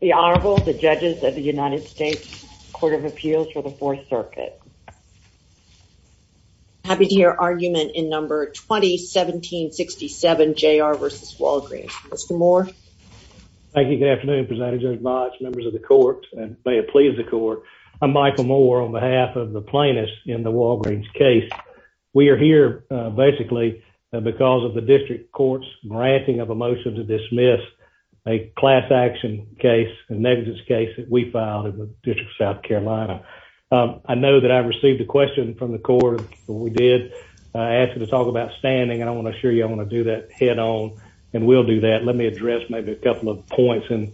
The Honorable, the Judges of the United States Court of Appeals for the Fourth Circuit. Happy to hear argument in number 20-17-67, J.R. v. Walgreens. Mr. Moore. Thank you. Good afternoon, President Judge Botch, members of the Court, and may it please the Court. I'm Michael Moore on behalf of the plaintiffs in the Walgreens case. We are here basically because of the District Court's granting of a motion to dismiss a class action case, a negligence case, that we filed in the District of South Carolina. I know that I received a question from the Court, and we did, asking to talk about standing, and I want to assure you I want to do that head-on, and we'll do that. Let me address maybe a couple of points in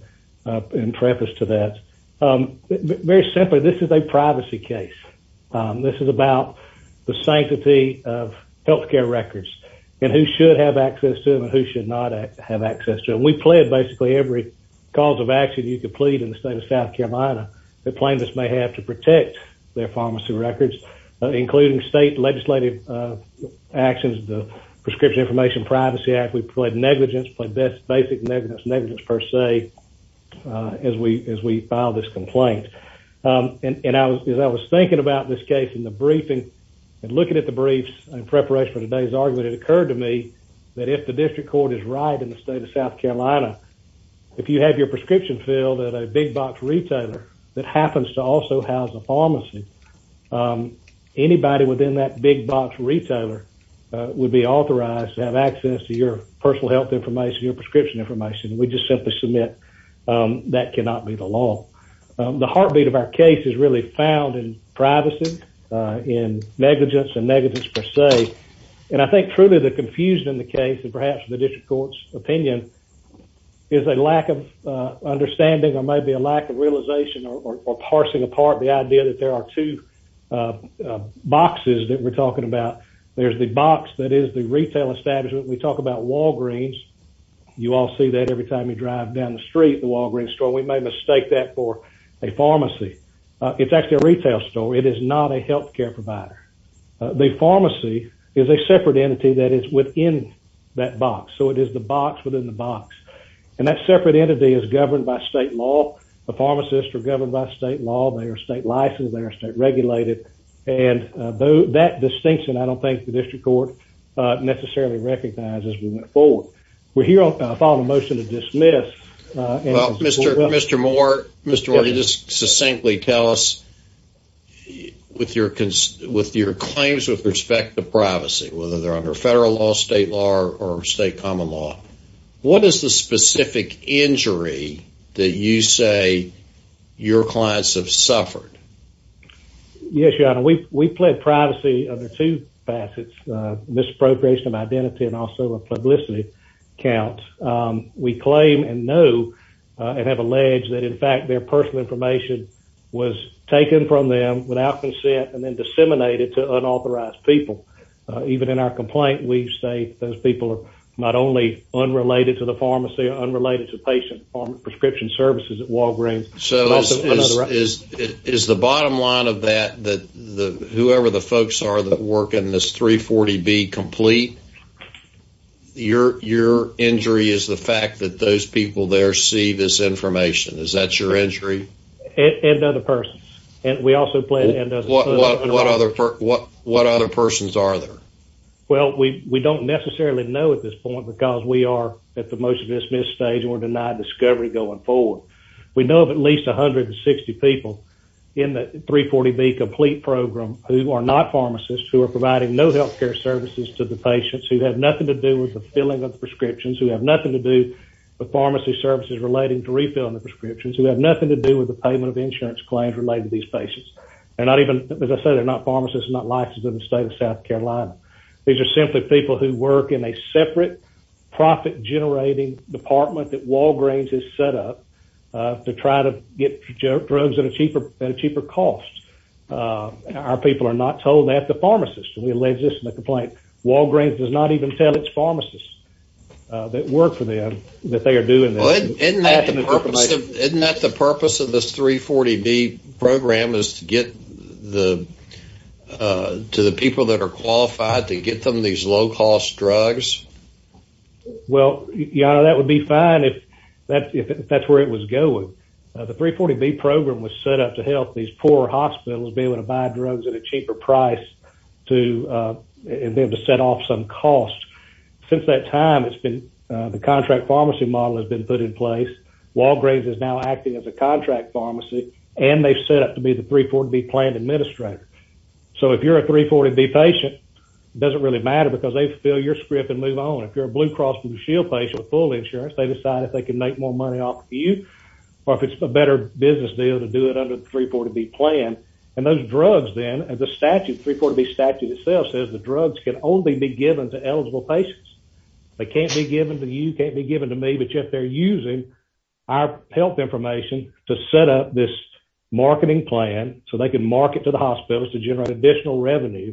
preface to that. Very simply, this is a privacy case. This is about the sanctity of health care records, and who should have access to them and who should not have access to them. And we plead basically every cause of action you could plead in the State of South Carolina that plaintiffs may have to protect their pharmacy records, including state legislative actions, the Prescription Information Privacy Act. We plead negligence, plead basic negligence, negligence per se, as we file this complaint. And as I was thinking about this case in the briefing, and looking at the briefs in preparation for today's argument, it occurred to me that if the District Court is right in the State of South Carolina, if you have your prescription filled at a big-box retailer that happens to also house a pharmacy, anybody within that big-box retailer would be authorized to have access to your personal health information, your prescription information, and we just simply submit that cannot be the law. The heartbeat of our case is really found in privacy, in negligence, and negligence per se. And I think truly the confusion in the case, and perhaps the District Court's opinion, is a lack of understanding or maybe a lack of realization or parsing apart the idea that there are two boxes that we're talking about. There's the box that is the retail establishment. We talk about Walgreens. You all see that every time you drive down the street, the Walgreens store. We may mistake that for a pharmacy. It's actually a retail store. It is not a health care provider. The pharmacy is a separate entity that is within that box. So it is the box within the box. And that separate entity is governed by state law. The pharmacists are governed by state law. They are state-licensed. They are state-regulated. And that distinction I don't think the District Court necessarily recognizes as we move forward. We're here upon a motion to dismiss. Well, Mr. Moore, you just succinctly tell us with your claims with respect to privacy, whether they're under federal law, state law, or state common law, what is the specific injury that you say your clients have suffered? Yes, Your Honor, we plead privacy under two facets, misappropriation of identity and also a publicity count. We claim and know and have alleged that, in fact, their personal information was taken from them without consent and then disseminated to unauthorized people. Even in our complaint, we say those people are not only unrelated to the pharmacy or unrelated to patient prescription services at Walgreens. So is the bottom line of that that whoever the folks are that work in this 340B complete, your injury is the fact that those people there see this information? Is that your injury? And other persons. What other persons are there? Well, we don't necessarily know at this point because we are at the motion to dismiss stage and we're denied discovery going forward. We know of at least 160 people in the 340B complete program who are not pharmacists, who are providing no healthcare services to the patients, who have nothing to do with the filling of prescriptions, who have nothing to do with pharmacy services relating to refilling the prescriptions, who have nothing to do with the payment of insurance claims related to these patients. As I said, they're not pharmacists, not licensed in the state of South Carolina. These are simply people who work in a separate profit-generating department that Walgreens has set up to try to get drugs at a cheaper cost. Our people are not told they have to be pharmacists. We allege this in the complaint. Walgreens does not even tell its pharmacists that work for them that they are doing this. Isn't that the purpose of this 340B program is to get to the people that are qualified, to get them these low-cost drugs? Well, your Honor, that would be fine if that's where it was going. The 340B program was set up to help these poor hospitals be able to buy drugs at a cheaper price and be able to set off some costs. Since that time, the contract pharmacy model has been put in place. Walgreens is now acting as a contract pharmacy, and they've set up to be the 340B planned administrator. So if you're a 340B patient, it doesn't really matter because they fill your script and move on. If you're a Blue Cross Blue Shield patient with full insurance, they decide if they can make more money off of you, or if it's a better business deal to do it under the 340B plan. And those drugs then, as the statute, 340B statute itself, says the drugs can only be given to eligible patients. They can't be given to you, can't be given to me, but yet they're using our health information to set up this marketing plan so they can market to the hospitals to generate additional revenue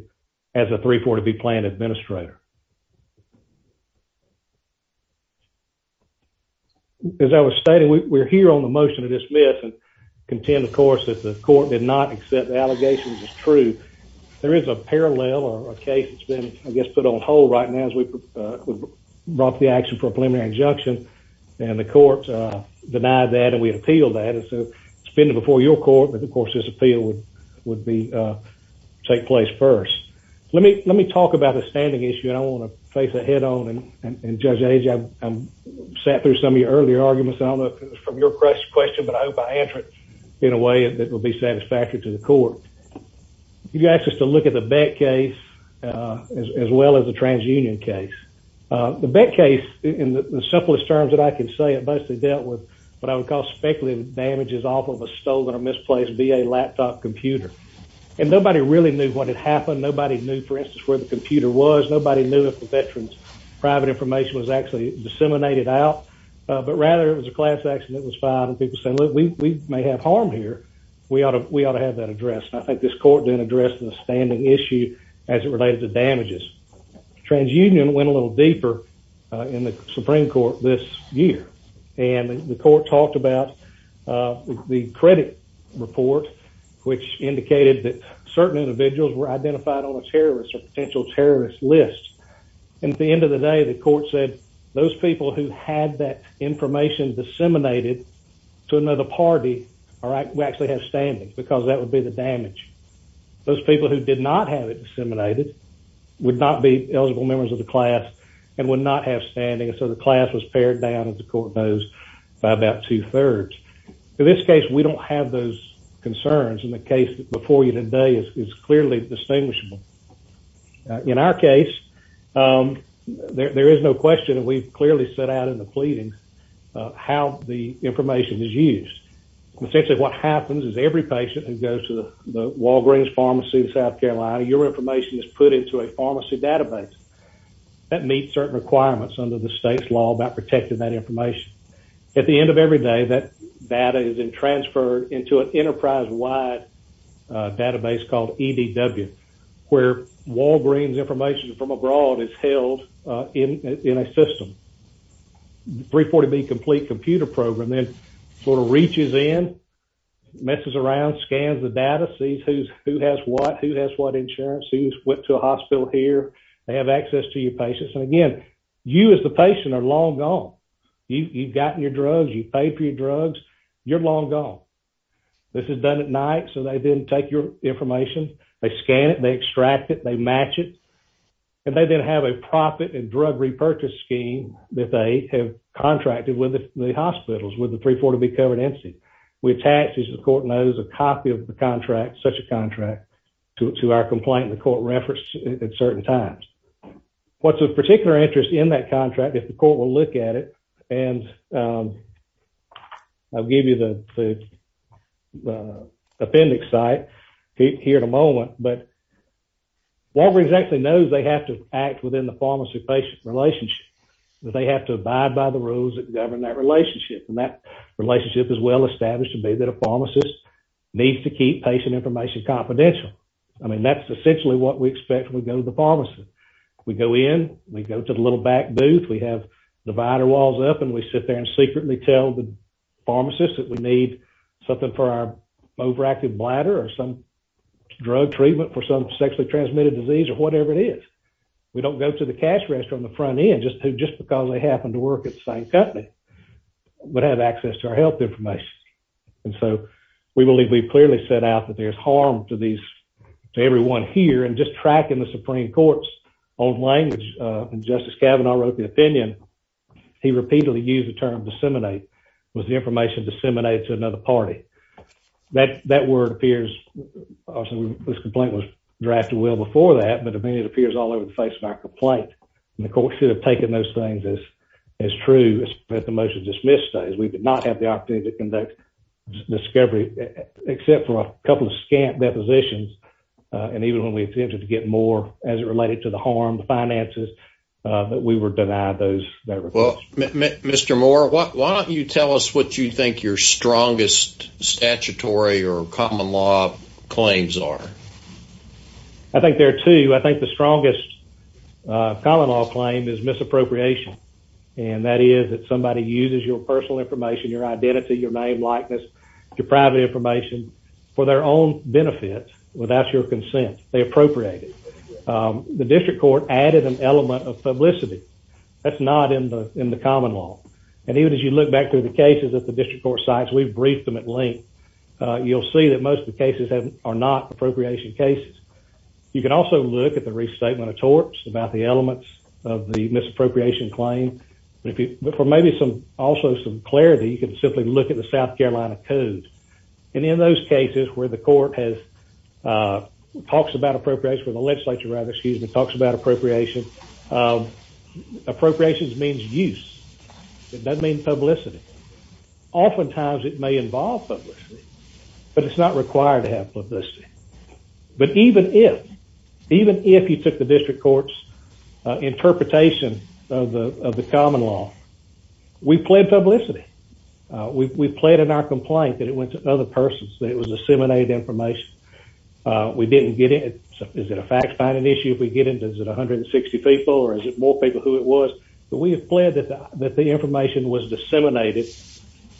as a 340B plan administrator. As I was stating, we're here on the motion to dismiss and contend, of course, that the court did not accept the allegations as true. There is a parallel or a case that's been, I guess, put on hold right now as we brought the action for a preliminary injunction, and the court denied that and we appealed that. And so it's been before your court, but, of course, this appeal would take place first. Let me talk about the standing issue, and I want to face it head-on. And, Judge Age, I sat through some of your earlier arguments. I don't know if it was from your question, but I hope I answered it in a way that will be satisfactory to the court. You asked us to look at the Beck case as well as the TransUnion case. The Beck case, in the simplest terms that I can say, it mostly dealt with what I would call speculative damages off of a stolen or misplaced VA laptop computer. And nobody really knew what had happened. Nobody knew, for instance, where the computer was. Nobody knew if the veteran's private information was actually disseminated out. But rather, it was a class action that was filed, and people said, look, we may have harm here. We ought to have that addressed. And I think this court then addressed the standing issue as it related to damages. TransUnion went a little deeper in the Supreme Court this year, and the court talked about the credit report, which indicated that certain individuals were identified on a terrorist or potential terrorist list. And at the end of the day, the court said, those people who had that information disseminated to another party would actually have standing because that would be the damage. Those people who did not have it disseminated would not be eligible members of the class and would not have standing, and so the class was pared down, as the court knows, by about two-thirds. In this case, we don't have those concerns, and the case before you today is clearly distinguishable. In our case, there is no question, and we've clearly set out in the pleadings how the information is used. Essentially, what happens is every patient who goes to the Walgreens Pharmacy in South Carolina, your information is put into a pharmacy database. about protecting that information. At the end of every day, that data is then transferred into an enterprise-wide database called EDW, where Walgreens information from abroad is held in a system. The 340B complete computer program then sort of reaches in, messes around, scans the data, sees who has what, who has what insurance, who's went to a hospital here. They have access to your patients, and again, you as the patient are long gone. You've gotten your drugs, you've paid for your drugs, you're long gone. This is done at night, so they then take your information, they scan it, they extract it, they match it, and they then have a profit and drug repurchase scheme that they have contracted with the hospitals, with the 340B covered entity. We attach, as the court knows, a copy of the contract, such a contract, to our complaint the court referenced at certain times. What's of particular interest in that contract, if the court will look at it, and I'll give you the appendix site here in a moment, but Walgreens actually knows they have to act within the pharmacy-patient relationship. They have to abide by the rules that govern that relationship, and that relationship is well established to be that a pharmacist needs to keep patient information confidential. I mean, that's essentially what we expect when we go to the pharmacy. We go in, we go to the little back booth, we have divider walls up, and we sit there and secretly tell the pharmacist that we need something for our overactive bladder or some drug treatment for some sexually transmitted disease or whatever it is. We don't go to the cash register on the front end just because they happen to work at the same company but have access to our health information. And so we believe we've clearly set out that there's harm to everyone here and just tracking the Supreme Court's own language, when Justice Kavanaugh wrote the opinion, he repeatedly used the term disseminate, was the information disseminated to another party. That word appears, this complaint was drafted well before that, but it appears all over the face of our complaint, and the court should have taken those things as true if the motion to dismiss stays. We could not have the opportunity to conduct discovery except for a couple of scant depositions, and even when we attempted to get more as it related to the harm, the finances, we were denied those. Well, Mr. Moore, why don't you tell us what you think your strongest statutory or common law claims are? I think there are two. I think the strongest common law claim is misappropriation, and that is that somebody uses your personal information, your identity, your name, likeness, your private information for their own benefit without your consent. They appropriate it. The district court added an element of publicity. That's not in the common law, and even as you look back through the cases at the district court sites, we've briefed them at length. You'll see that most of the cases are not appropriation cases. You can also look at the restatement of torts, about the elements of the misappropriation claim, but for maybe also some clarity, you can simply look at the South Carolina Code, and in those cases where the court has, talks about appropriation, or the legislature rather, excuse me, talks about appropriation, appropriations means use. It doesn't mean publicity. Oftentimes it may involve publicity, but it's not required to have publicity. But even if, even if you took the district court's interpretation of the common law, we pled publicity. We pled in our complaint that it went to other persons, that it was disseminated information. We didn't get it. Is it a fact-finding issue if we get it? Is it 160 people, or is it more people who it was? But we have pled that the information was disseminated.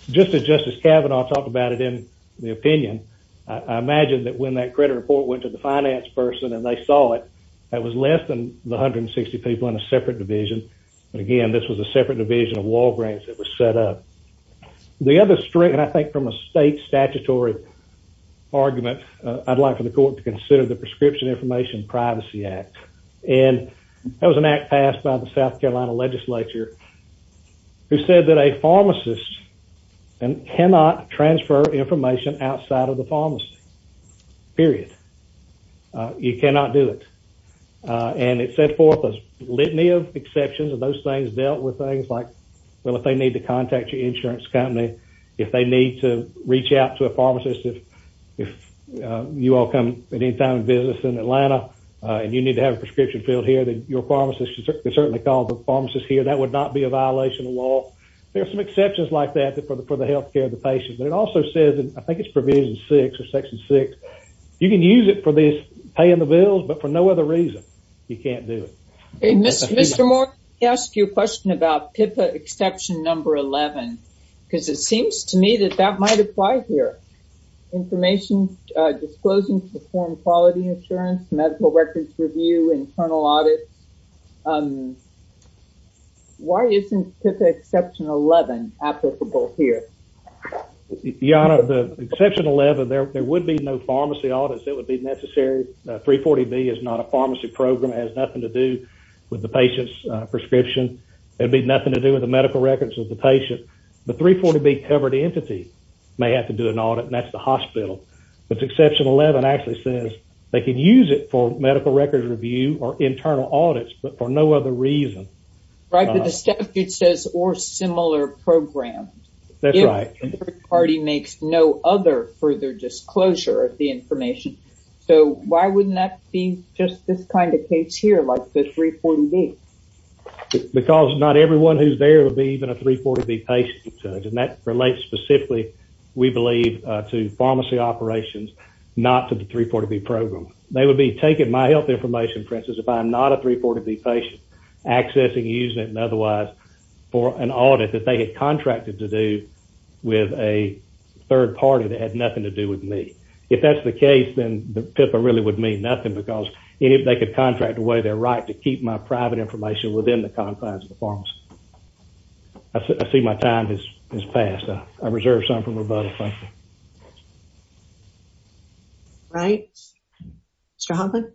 Just as Justice Kavanaugh talked about it in the opinion, I imagine that when that credit report went to the finance person and they saw it, that was less than the 160 people in a separate division. Again, this was a separate division of Walgreens that was set up. The other, and I think from a state statutory argument, I'd like for the court to consider the Prescription Information Privacy Act. And that was an act passed by the South Carolina legislature who said that a pharmacist cannot transfer information outside of the pharmacy. Period. You cannot do it. And it set forth a litany of exceptions, and those things dealt with things like, well, if they need to contact your insurance company, if they need to reach out to a pharmacist, if you all come at any time of business in Atlanta and you need to have a prescription filled here, then your pharmacist can certainly call the pharmacist here. That would not be a violation of the law. There are some exceptions like that for the health care of the patient. But it also says, and I think it's provision six or section six, you can use it for paying the bills, but for no other reason. You can't do it. Mr. Moore, can I ask you a question about PIPA exception number 11? Because it seems to me that that might apply here. Information disclosing to perform quality insurance, medical records review, internal audits. Why isn't PIPA exception 11 applicable here? Your Honor, the exception 11, there would be no pharmacy audits. It would be necessary. 340B is not a pharmacy program. It has nothing to do with the patient's prescription. It would be nothing to do with the medical records of the patient. The 340B covered entity may have to do an audit, and that's the hospital. But exception 11 actually says they can use it for medical records review or internal audits, but for no other reason. Right, but the statute says or similar program. That's right. The third party makes no other further disclosure of the information. So why wouldn't that be just this kind of case here, like the 340B? Because not everyone who's there would be even a 340B patient. And that relates specifically, we believe, to pharmacy operations, not to the 340B program. They would be taking my health information, for instance, if I'm not a 340B patient, accessing, using it, and otherwise for an audit that they had contracted to do with a third party that had nothing to do with me. If that's the case, then the PIPA really would mean nothing because they could contract away their right to keep my private information within the confines of the pharmacy. I see my time has passed. I reserve some for rebuttal. Thank you. Right. Mr. Hoffman?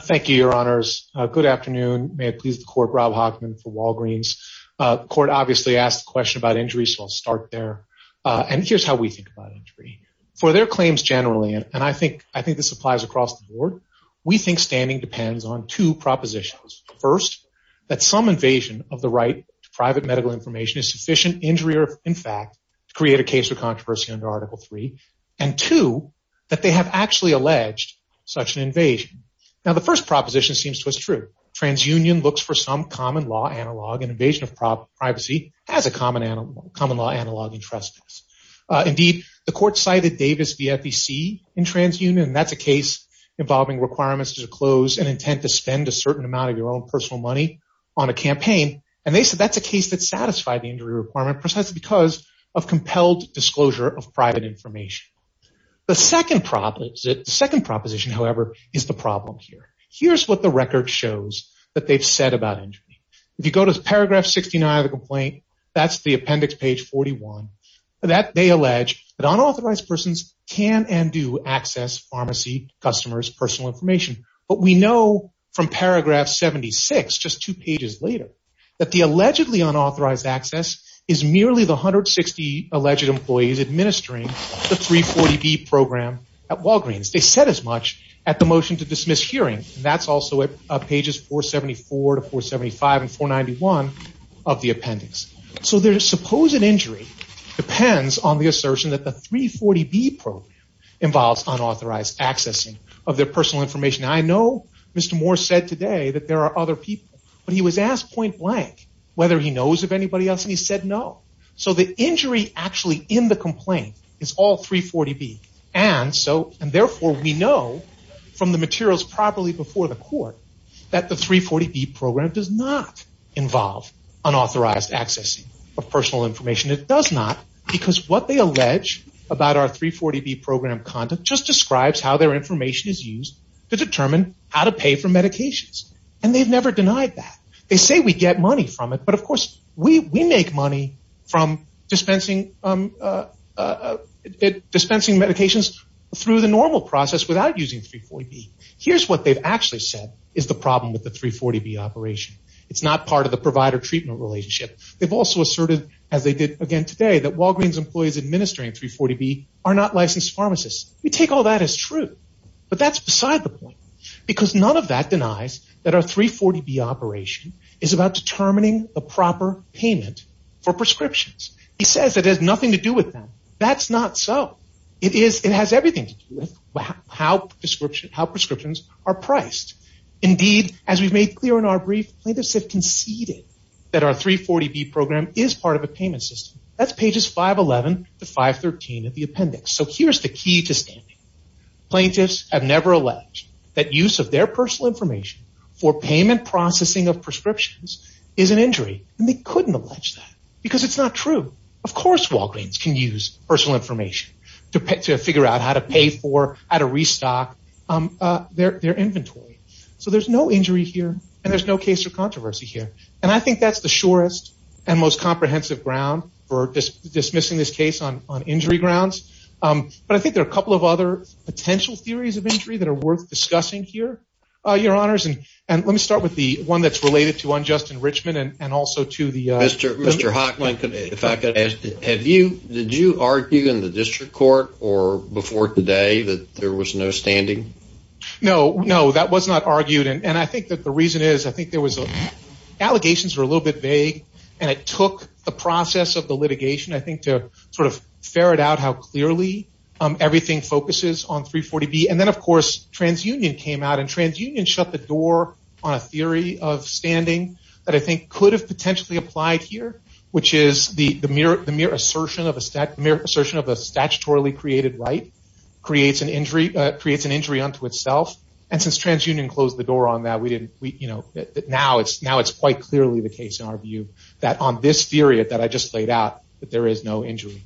Thank you, Your Honors. Good afternoon. May it please the Court, Rob Hoffman for Walgreens. The Court obviously asked a question about injury, so I'll start there. And here's how we think about injury. For their claims generally, and I think this applies across the board, we think standing depends on two propositions. First, that some invasion of the right to private medical information is sufficient injury or, in fact, to create a case of controversy under Article III. And two, that they have actually alleged such an invasion. Now, the first proposition seems to us true. Transunion looks for some common law analog, and invasion of privacy has a common law analog in trespass. Indeed, the Court cited Davis v. FEC in Transunion, and that's a case involving requirements to disclose an intent to spend a certain amount of your own personal money on a campaign. And they said that's a case that satisfied the injury requirement precisely because of compelled disclosure of private information. The second proposition, however, is the problem here. Here's what the record shows that they've said about injury. If you go to Paragraph 69 of the complaint, that's the appendix, page 41, that they allege that unauthorized persons can and do access pharmacy customers' personal information. But we know from Paragraph 76, just two pages later, that the allegedly unauthorized access is merely the 160 alleged employees administering the 340B program at Walgreens. They said as much at the motion to dismiss hearing, and that's also at pages 474 to 475 and 491 of the appendix. So their supposed injury depends on the assertion that the 340B program involves unauthorized accessing of their personal information. I know Mr. Moore said today that there are other people, but he was asked point blank whether he knows of anybody else, and he said no. So the injury actually in the complaint is all 340B, and therefore we know from the materials properly before the court that the 340B program does not involve unauthorized accessing of personal information. It does not because what they allege about our 340B program conduct just describes how their information is used to determine how to pay for medications, and they've never denied that. They say we get money from it, but, of course, we make money from dispensing medications through the normal process without using 340B. Here's what they've actually said is the problem with the 340B operation. It's not part of the provider-treatment relationship. They've also asserted, as they did again today, that Walgreens employees administering 340B are not licensed pharmacists. We take all that as true, but that's beside the point because none of that for prescriptions. He says it has nothing to do with them. That's not so. It has everything to do with how prescriptions are priced. Indeed, as we've made clear in our brief, plaintiffs have conceded that our 340B program is part of a payment system. That's pages 511 to 513 of the appendix. So here's the key to standing. Plaintiffs have never alleged that use of their personal information for payment processing of prescriptions is an injury, and they couldn't allege that because it's not true. Of course Walgreens can use personal information to figure out how to pay for, how to restock their inventory. So there's no injury here, and there's no case of controversy here. And I think that's the surest and most comprehensive ground for dismissing this case on injury grounds. But I think there are a couple of other potential theories of injury that are worth discussing here, Your Honors. And let me start with the one that's related to unjust enrichment and also to the Mr. Hochman, if I could ask, did you argue in the district court or before today that there was no standing? No, no, that was not argued. And I think that the reason is I think there was allegations were a little bit vague, and it took the process of the litigation, I think, to sort of ferret out how clearly everything focuses on 340B. And then, of course, TransUnion came out, and TransUnion shut the door on a theory of standing that I think could have potentially applied here, which is the mere assertion of a statutorily created right creates an injury unto itself. And since TransUnion closed the door on that, now it's quite clearly the case in our view that on this theory that I just laid out that there is no injury.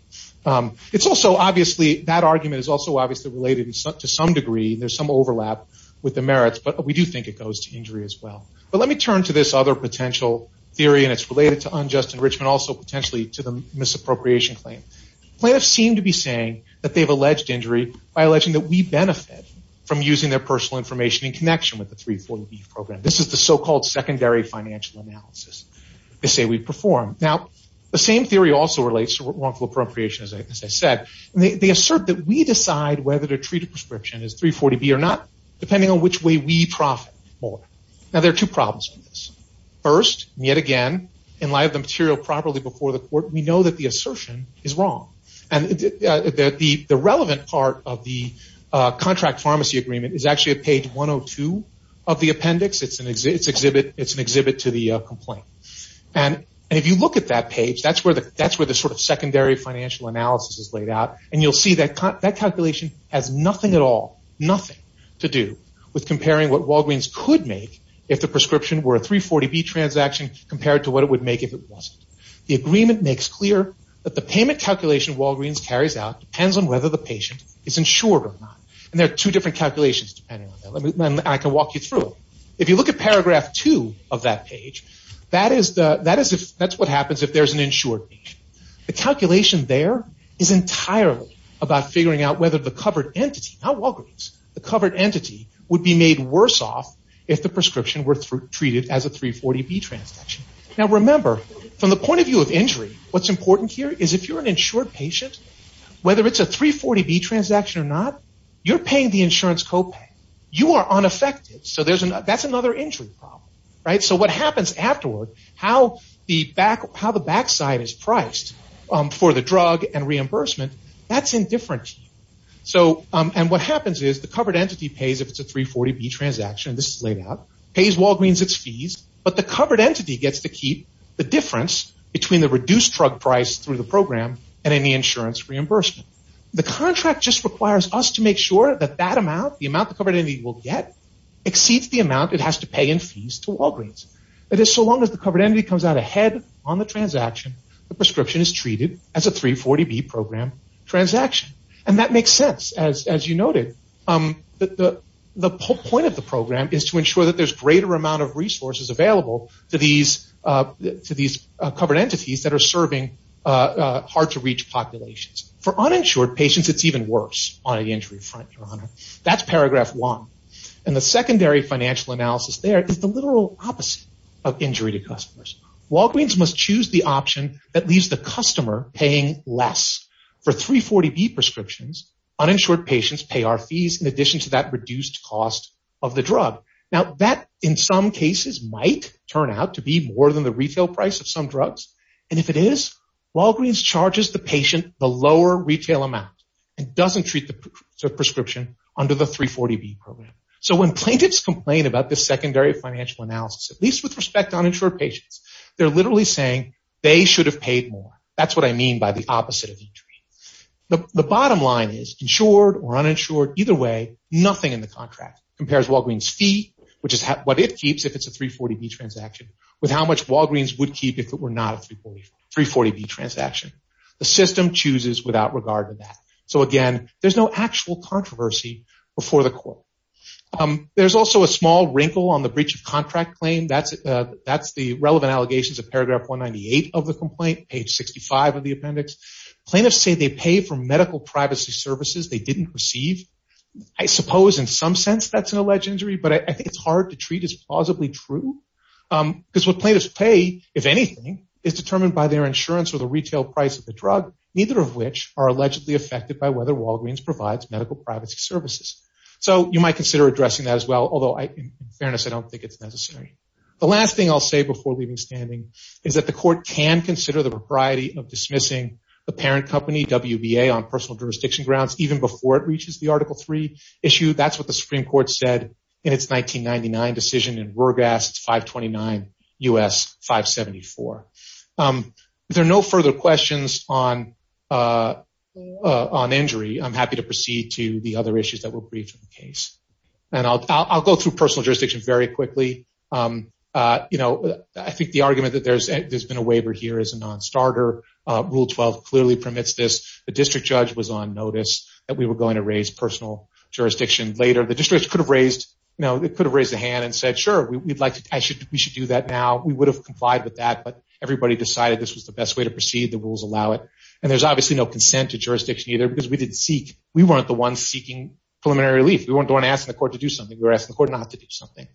It's also obviously that argument is also obviously related to some degree. There's some overlap with the merits, but we do think it goes to injury as well. But let me turn to this other potential theory, and it's related to unjust enrichment, also potentially to the misappropriation claim. Plaintiffs seem to be saying that they've alleged injury by alleging that we benefit from using their personal information in connection with the 340B program. This is the so-called secondary financial analysis. They say we perform. Now, the same theory also relates to wrongful appropriation, as I said. They assert that we decide whether to treat a prescription as 340B or not depending on which way we profit more. Now, there are two problems with this. First, and yet again, in light of the material properly before the court, we know that the assertion is wrong. And the relevant part of the contract pharmacy agreement is actually at page 102 of the appendix. It's an exhibit to the complaint. And if you look at that page, that's where the sort of secondary financial analysis is laid out. And you'll see that that calculation has nothing at all, nothing to do with comparing what Walgreens could make if the prescription were a 340B transaction compared to what it would make if it wasn't. The agreement makes clear that the payment calculation Walgreens carries out depends on whether the patient is insured or not. And there are two different calculations depending on that. I can walk you through them. If you look at paragraph 2 of that page, that's what happens if there's an insured patient. The calculation there is entirely about figuring out whether the covered entity, not Walgreens, the covered entity would be made worse off if the prescription were treated as a 340B transaction. Now, remember, from the point of view of injury, what's important here is if you're an insured patient, whether it's a 340B transaction or not, you're paying the insurance copay. You are unaffected, so that's another injury problem. So what happens afterward, how the backside is priced for the drug and reimbursement, that's indifferent to you. And what happens is the covered entity pays if it's a 340B transaction, this is laid out, pays Walgreens its fees, but the covered entity gets to keep the difference between the reduced drug price through the program and any insurance reimbursement. The contract just requires us to make sure that that amount, the amount the covered entity will get, exceeds the amount it has to pay in fees to Walgreens. It is so long as the covered entity comes out ahead on the transaction, the prescription is treated as a 340B program transaction. And that makes sense, as you noted. The point of the program is to ensure that there's a greater amount of resources available to these covered entities that are serving hard-to-reach populations. That's paragraph one. And the secondary financial analysis there is the literal opposite of injury to customers. Walgreens must choose the option that leaves the customer paying less. For 340B prescriptions, uninsured patients pay our fees in addition to that reduced cost of the drug. Now that in some cases might turn out to be more than the retail price of some drugs. And if it is, Walgreens charges the patient the lower retail amount and doesn't treat the prescription under the 340B program. So when plaintiffs complain about this secondary financial analysis, at least with respect to uninsured patients, they're literally saying they should have paid more. That's what I mean by the opposite of injury. The bottom line is, insured or uninsured, either way, nothing in the contract compares Walgreens' fee, which is what it keeps if it's a 340B transaction, with how much Walgreens would keep if it were not a 340B transaction. The system chooses without regard to that. So, again, there's no actual controversy before the court. There's also a small wrinkle on the breach of contract claim. That's the relevant allegations of paragraph 198 of the complaint, page 65 of the appendix. Plaintiffs say they pay for medical privacy services they didn't receive. I suppose in some sense that's an alleged injury, but I think it's hard to treat as plausibly true. Because what plaintiffs pay, if anything, is determined by their insurance or the retail price of the drug, neither of which are allegedly affected by whether Walgreens provides medical privacy services. So you might consider addressing that as well, although, in fairness, I don't think it's necessary. The last thing I'll say before leaving standing is that the court can consider the propriety of dismissing the parent company, WBA, on personal jurisdiction grounds, even before it reaches the Article III issue. That's what the Supreme Court said in its 1999 decision in RurGas, 529 U.S. 574. If there are no further questions on injury, I'm happy to proceed to the other issues that were briefed in the case. And I'll go through personal jurisdiction very quickly. I think the argument that there's been a waiver here is a non-starter. Rule 12 clearly permits this. The district judge was on notice that we were going to raise personal jurisdiction later. The district judge could have raised a hand and said, sure, we should do that now. We would have complied with that, but everybody decided this was the best way to proceed, the rules allow it. And there's obviously no consent to jurisdiction either because we weren't the ones seeking preliminary relief. We weren't the ones asking the court to do something. We were asking the court not to do something.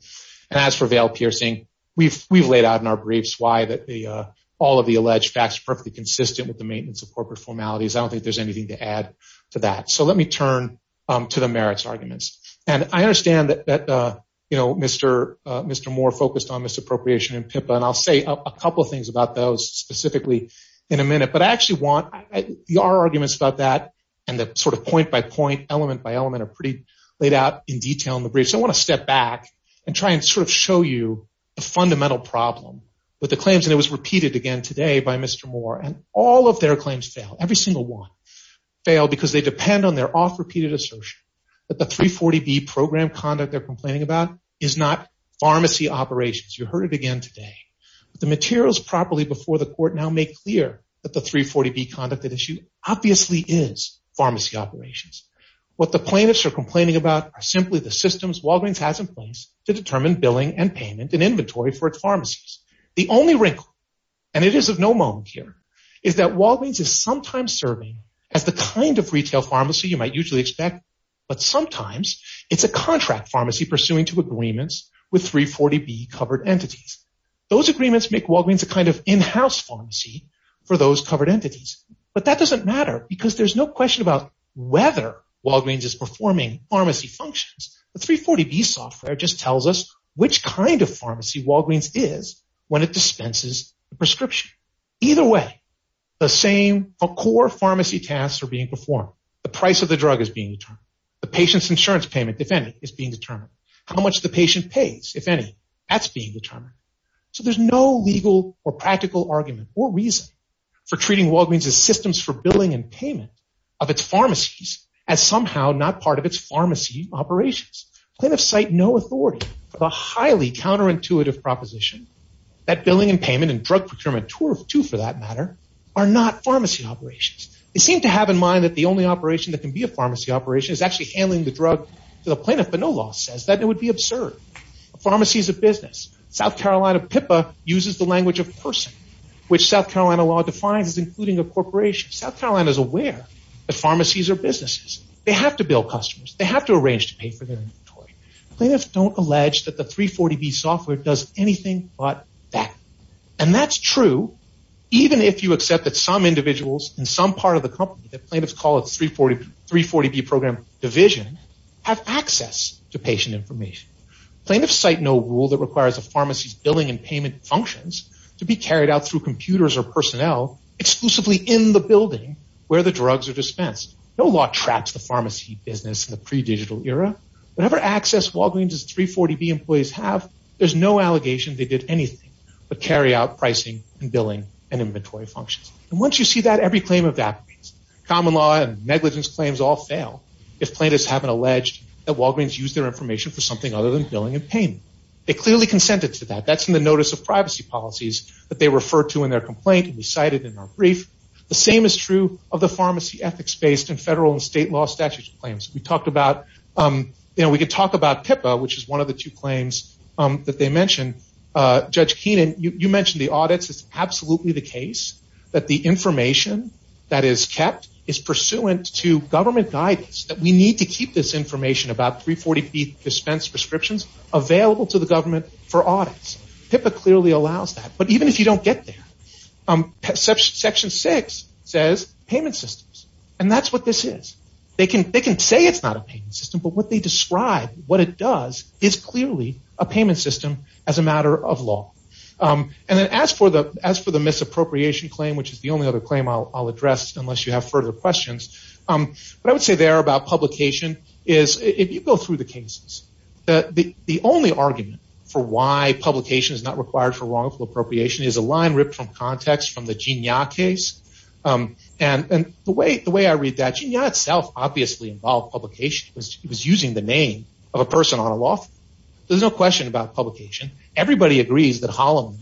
And as for veil piercing, we've laid out in our briefs why all of the alleged facts are perfectly consistent with the maintenance of corporate formalities. I don't think there's anything to add to that. So let me turn to the merits arguments. And I understand that Mr. Moore focused on misappropriation in PIPA, and I'll say a couple of things about those specifically in a minute. But I actually want the arguments about that and the sort of point-by-point, element-by-element are pretty laid out in detail in the brief. So I want to step back and try and sort of show you the fundamental problem with the claims. And it was repeated again today by Mr. Moore. And all of their claims fail, every single one fail, because they depend on their off-repeated assertion that the 340B program conduct they're complaining about is not pharmacy operations. You heard it again today. The materials properly before the court now make clear that the 340B conduct at issue obviously is pharmacy operations. What the plaintiffs are complaining about are simply the systems Walgreens has in place to determine billing and payment and inventory for its pharmacies. The only wrinkle, and it is of no moment here, is that Walgreens is sometimes serving as the kind of retail pharmacy you might usually expect, but sometimes it's a contract pharmacy pursuing to agreements with 340B covered entities. Those agreements make Walgreens a kind of in-house pharmacy for those covered entities. But that doesn't matter because there's no question about whether Walgreens is performing pharmacy functions. The 340B software just tells us which kind of pharmacy Walgreens is when it dispenses the prescription. Either way, the same core pharmacy tasks are being performed. The price of the drug is being determined. The patient's insurance payment, if any, is being determined. How much the patient pays, if any, that's being determined. So there's no legal or practical argument or reason for treating Walgreens' systems for billing and payment of its pharmacies as somehow not part of its pharmacy operations. Plaintiffs cite no authority for the highly counterintuitive proposition that billing and payment and drug procurement too, for that matter, are not pharmacy operations. They seem to have in mind that the only operation that can be a pharmacy operation is actually handling the drug. The plaintiff, by no loss, says that it would be absurd. A pharmacy is a business. South Carolina PIPA uses the language of person, which South Carolina law defines as including a corporation. South Carolina is aware that pharmacies are businesses. They have to bill customers. They have to arrange to pay for their inventory. Plaintiffs don't allege that the 340B software does anything but that. And that's true even if you accept that some individuals in some part of the company that plaintiffs call a 340B program division have access to patient information. Plaintiffs cite no rule that requires a pharmacy's billing and payment functions to be carried out through computers or personnel exclusively in the building where the drugs are dispensed. No law traps the pharmacy business in the pre-digital era. Whatever access Walgreens' 340B employees have, there's no allegation they did anything but carry out pricing and billing and inventory functions. And once you see that, every claim of that means. Common law and negligence claims all fail if plaintiffs haven't alleged that Walgreens used their information for something other than billing and payment. They clearly consented to that. That's in the notice of privacy policies that they refer to in their complaint and recited in our brief. The same is true of the pharmacy ethics-based and federal and state law statutes claims. We can talk about PIPA, which is one of the two claims that they mentioned. Judge Keenan, you mentioned the audits. It's absolutely the case that the information that is kept is pursuant to government guidance that we need to keep this information about 340B dispensed prescriptions available to the government for audits. PIPA clearly allows that. But even if you don't get there, Section 6 says payment systems. And that's what this is. They can say it's not a payment system, but what they describe, what it does, is clearly a payment system as a matter of law. And then as for the misappropriation claim, which is the only other claim I'll address unless you have further questions, what I would say there about publication is if you go through the cases, the only argument for why publication is not required for wrongful appropriation is a line ripped from context from the Jinya case. And the way I read that, Jinya itself obviously involved publication. It was using the name of a person on a law firm. There's no question about publication. Everybody agrees that Holloman,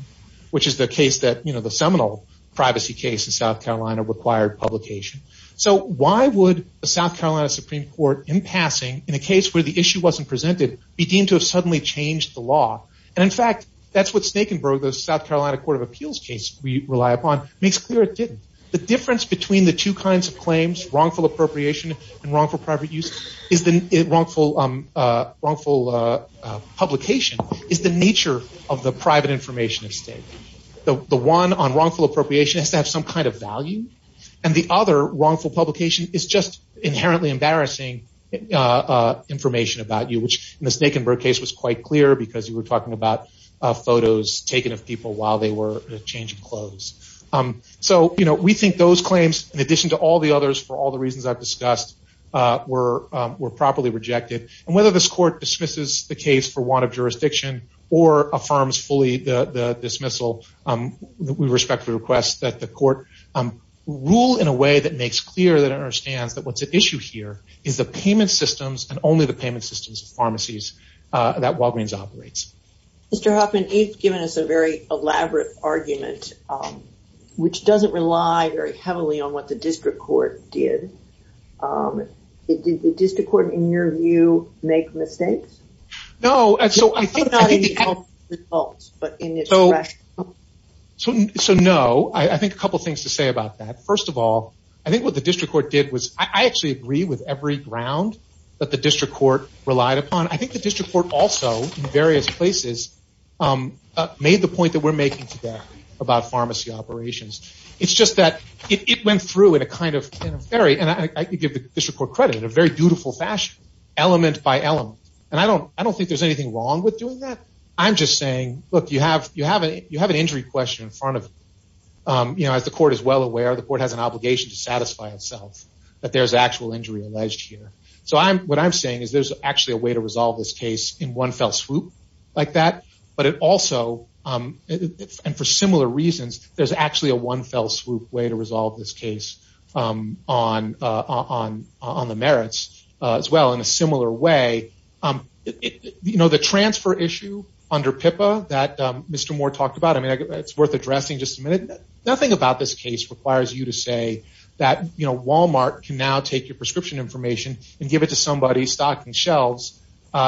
which is the case that the seminal privacy case in South Carolina required publication. So why would the South Carolina Supreme Court, in passing, in a case where the issue wasn't presented, be deemed to have suddenly changed the law? And in fact, that's what Snakenberg, the South Carolina Court of Appeals case we rely upon, makes clear it didn't. The difference between the two kinds of claims, wrongful appropriation and wrongful publication, is the nature of the private information at stake. The one on wrongful appropriation has to have some kind of value, and the other, wrongful publication, is just inherently embarrassing information about you, which in the Snakenberg case was quite clear because you were talking about photos taken of people while they were changing clothes. So we think those claims, in addition to all the others, for all the reasons I've discussed, were properly rejected. And whether this court dismisses the case for want of jurisdiction or affirms fully the dismissal, we respectfully request that the court rule in a way that makes clear that it understands that what's at issue here is the payment systems and only the payment systems of pharmacies that Walgreens operates. Mr. Hoffman, you've given us a very elaborate argument, which doesn't rely very heavily on what the district court did. Did the district court, in your view, make mistakes? No. So no. I think a couple things to say about that. First of all, I think what the district court did was, I actually agree with every ground that the district court relied upon. I think the district court also, in various places, made the point that we're making today about pharmacy operations. It's just that it went through in a kind of very, and I give the district court credit, in a very dutiful fashion, element by element. And I don't think there's anything wrong with doing that. I'm just saying, look, you have an injury question in front of you. As the court is well aware, the court has an obligation to satisfy itself that there's actual injury alleged here. So what I'm saying is there's actually a way to resolve this case in one fell swoop like that. But it also, and for similar reasons, there's actually a one fell swoop way to resolve this case on the merits as well in a similar way. You know, the transfer issue under PIPA that Mr. Moore talked about, I mean, it's worth addressing just a minute. Nothing about this case requires you to say that, you know, and give it to somebody stocking shelves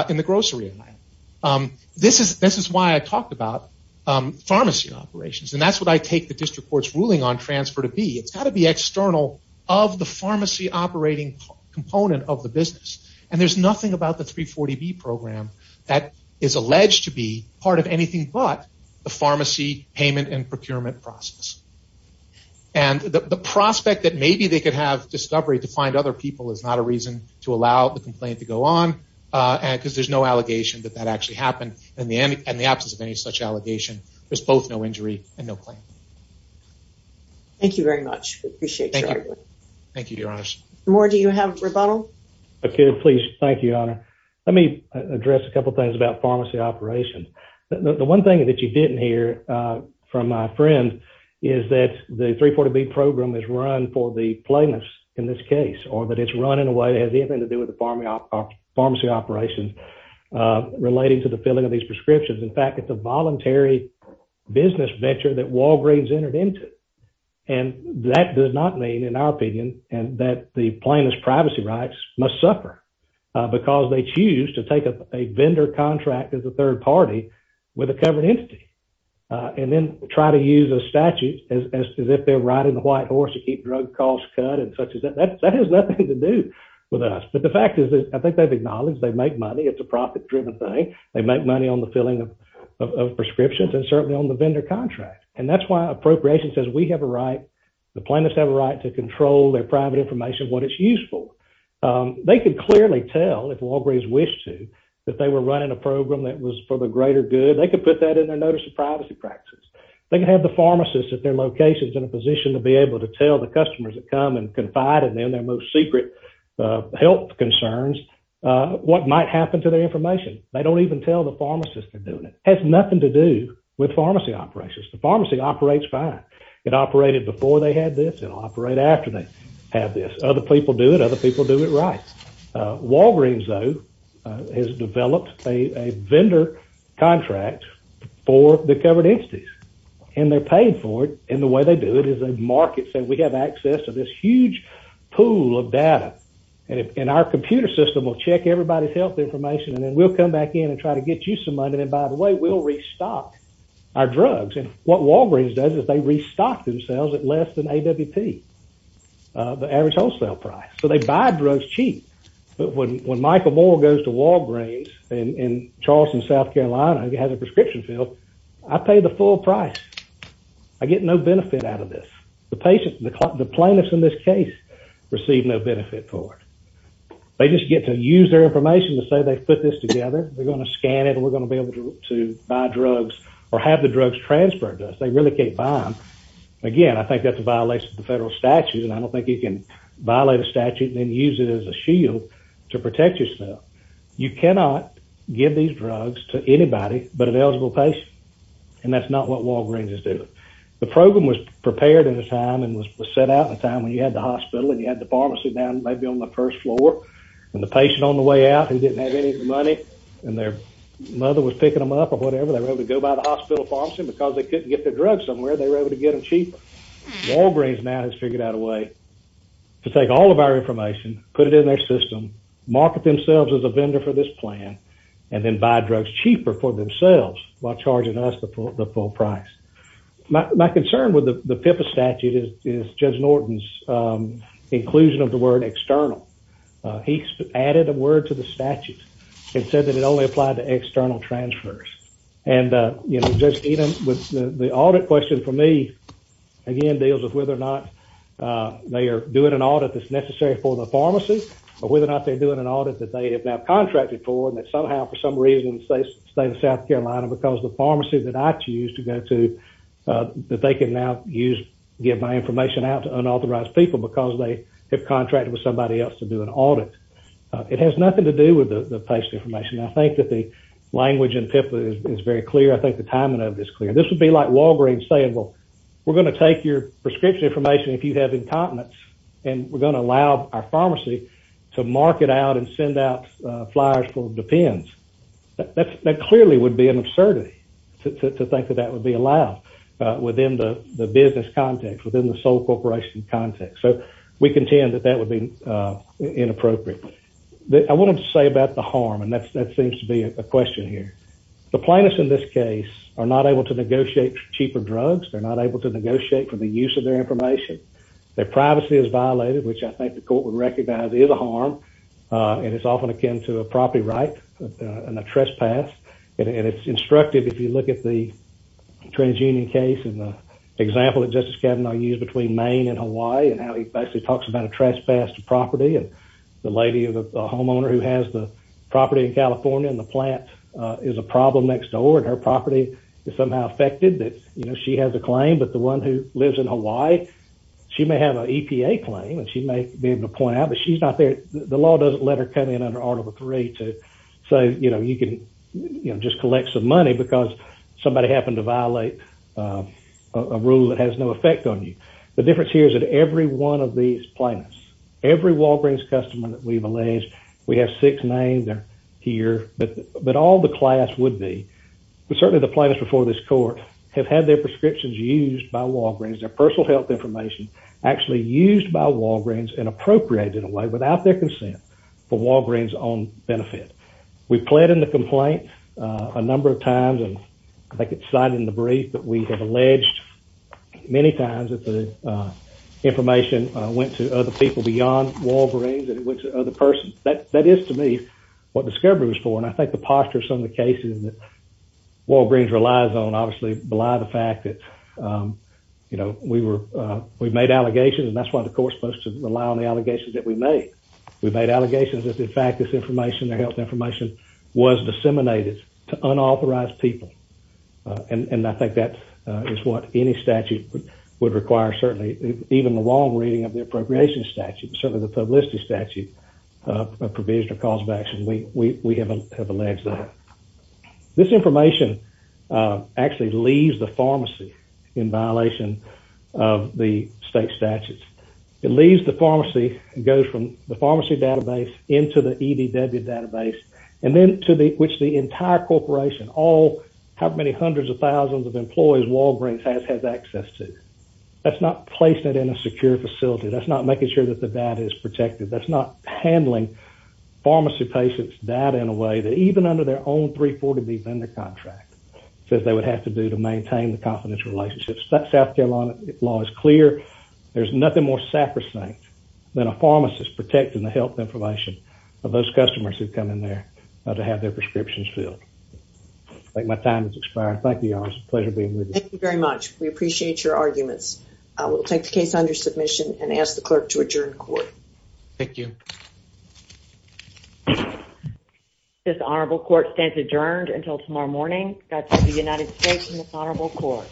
in the grocery aisle. This is why I talked about pharmacy operations. And that's what I take the district court's ruling on transfer to be. It's got to be external of the pharmacy operating component of the business. And there's nothing about the 340B program that is alleged to be part of anything but the pharmacy payment and procurement process. And the prospect that maybe they could have discovery to find other people is not a reason to allow the complaint to go on. And because there's no allegation that that actually happened in the end, and the absence of any such allegation, there's both no injury and no claim. Thank you very much. We appreciate it. Thank you, Your Honor. Mr. Moore, do you have rebuttal? Okay, please. Thank you, Your Honor. Let me address a couple of things about pharmacy operations. The one thing that you didn't hear from my friend is that the 340B program is run for the plaintiffs in this case, or that it's run in a way that has anything to do with the pharmacy operations relating to the filling of these prescriptions. In fact, it's a voluntary business venture that Walgreens entered into. And that does not mean, in our opinion, that the plaintiff's privacy rights must suffer because they choose to take a vendor contract as a third party with a covered entity, and then try to use a statute as if they're riding the white horse to keep drug costs cut and such. That has nothing to do with us. But the fact is that I think they've acknowledged they make money. It's a profit-driven thing. They make money on the filling of prescriptions, and certainly on the vendor contract. And that's why appropriation says we have a right, the plaintiffs have a right to control their private information, what it's used for. They could clearly tell, if Walgreens wished to, that they were running a program that was for the greater good. They could put that in their notice of privacy practice. They can have the pharmacist at their locations in a position to be able to tell the customers that come and confide in them their most secret health concerns what might happen to their information. They don't even tell the pharmacist they're doing it. It has nothing to do with pharmacy operations. The pharmacy operates fine. It operated before they had this. It'll operate after they have this. Other people do it. Other people do it right. Walgreens, though, has developed a vendor contract for the covered entities. And they're paid for it. And the way they do it is they market, say we have access to this huge pool of data. And our computer system will check everybody's health information, and then we'll come back in and try to get you some money. And then, by the way, we'll restock our drugs. And what Walgreens does is they restock themselves at less than AWP, the average wholesale price. So they buy drugs cheap. But when Michael Moore goes to Walgreens in Charleston, South Carolina, who has a prescription field, I pay the full price. I get no benefit out of this. The plaintiffs in this case receive no benefit for it. They just get to use their information to say they've put this together. They're going to scan it, and we're going to be able to buy drugs or have the drugs transferred to us. They really can't buy them. Again, I think that's a violation of the federal statute, and I don't think you can violate a statute and then use it as a shield to protect yourself. You cannot give these drugs to anybody but an eligible patient, and that's not what Walgreens is doing. The program was prepared at a time and was set out at a time when you had the hospital and you had the pharmacy down maybe on the first floor, and the patient on the way out who didn't have any money and their mother was picking them up or whatever, they were able to go by the hospital pharmacy. Because they couldn't get their drugs somewhere, they were able to get them cheaper. Walgreens now has figured out a way to take all of our information, put it in their system, market themselves as a vendor for this plan, and then buy drugs cheaper for themselves while charging us the full price. My concern with the PIPA statute is Judge Norton's inclusion of the word external. He added a word to the statute and said that it only applied to external transfers. And the audit question for me, again, deals with whether or not they are doing an audit that's necessary for the pharmacy or whether or not they're doing an audit that they have now contracted for and that somehow, for some reason, they stay in South Carolina because the pharmacy that I choose to go to, that they can now give my information out to unauthorized people because they have contracted with somebody else to do an audit. It has nothing to do with the patient information. I think that the language in PIPA is very clear. I think the timing of it is clear. This would be like Walgreens saying, well, we're going to take your prescription information if you have incontinence and we're going to allow our pharmacy to market out and send out flyers full of the pens. That clearly would be an absurdity to think that that would be allowed within the business context, within the sole corporation context. So we contend that that would be inappropriate. I wanted to say about the harm, and that seems to be a question here. The plaintiffs in this case are not able to negotiate cheaper drugs. They're not able to negotiate for the use of their information. Their privacy is violated, which I think the court would recognize is a harm, and it's often akin to a property right and a trespass, and it's instructive if you look at the TransUnion case and the example that Justice Kavanaugh used between Maine and Hawaii and how he basically talks about a trespass to property and the lady, the homeowner who has the property in California and the plant is a problem next door and her property is somehow affected that she has a claim, but the one who lives in Hawaii, she may have an EPA claim and she may be able to point out, but she's not there. The law doesn't let her come in under Article 3 to say you can just collect some money because somebody happened to violate a rule that has no effect on you. The difference here is that every one of these plaintiffs, every Walgreens customer that we've alleged, we have six names here, but all the class would be, but certainly the plaintiffs before this court have had their prescriptions used by Walgreens, their personal health information actually used by Walgreens and appropriated away without their consent for Walgreens' own benefit. We've pled in the complaint a number of times, and I think it's cited in the brief that we have alleged many times that the information went to other people beyond Walgreens and it went to other persons. That is, to me, what discovery was for, and I think the posture of some of the cases that Walgreens relies on obviously belie the fact that we've made allegations, and that's why the court's supposed to rely on the allegations that we made. We've made allegations that, in fact, this information, their health information, was disseminated to unauthorized people, and I think that is what any statute would require, certainly even the wrong reading of the appropriation statute, certainly the publicity statute, a provision of cause of action. We have alleged that. This information actually leaves the pharmacy in violation of the state statutes. It leaves the pharmacy and goes from the pharmacy database into the EDW database, and then to which the entire corporation, all, however many hundreds of thousands of employees, Walgreens has had access to. That's not placing it in a secure facility. That's not making sure that the data is protected. That's not handling pharmacy patients' data in a way that even under their own 340B vendor contract says they would have to do to maintain the confidential relationships. South Carolina law is clear. There's nothing more sacrosanct than a pharmacist protecting the health information of those customers who come in there to have their prescriptions filled. I think my time has expired. Thank you, y'all. It was a pleasure being with you. Thank you very much. We appreciate your arguments. We'll take the case under submission and ask the clerk to adjourn court. Thank you. This honorable court stands adjourned until tomorrow morning. That's the United States Honorable Court.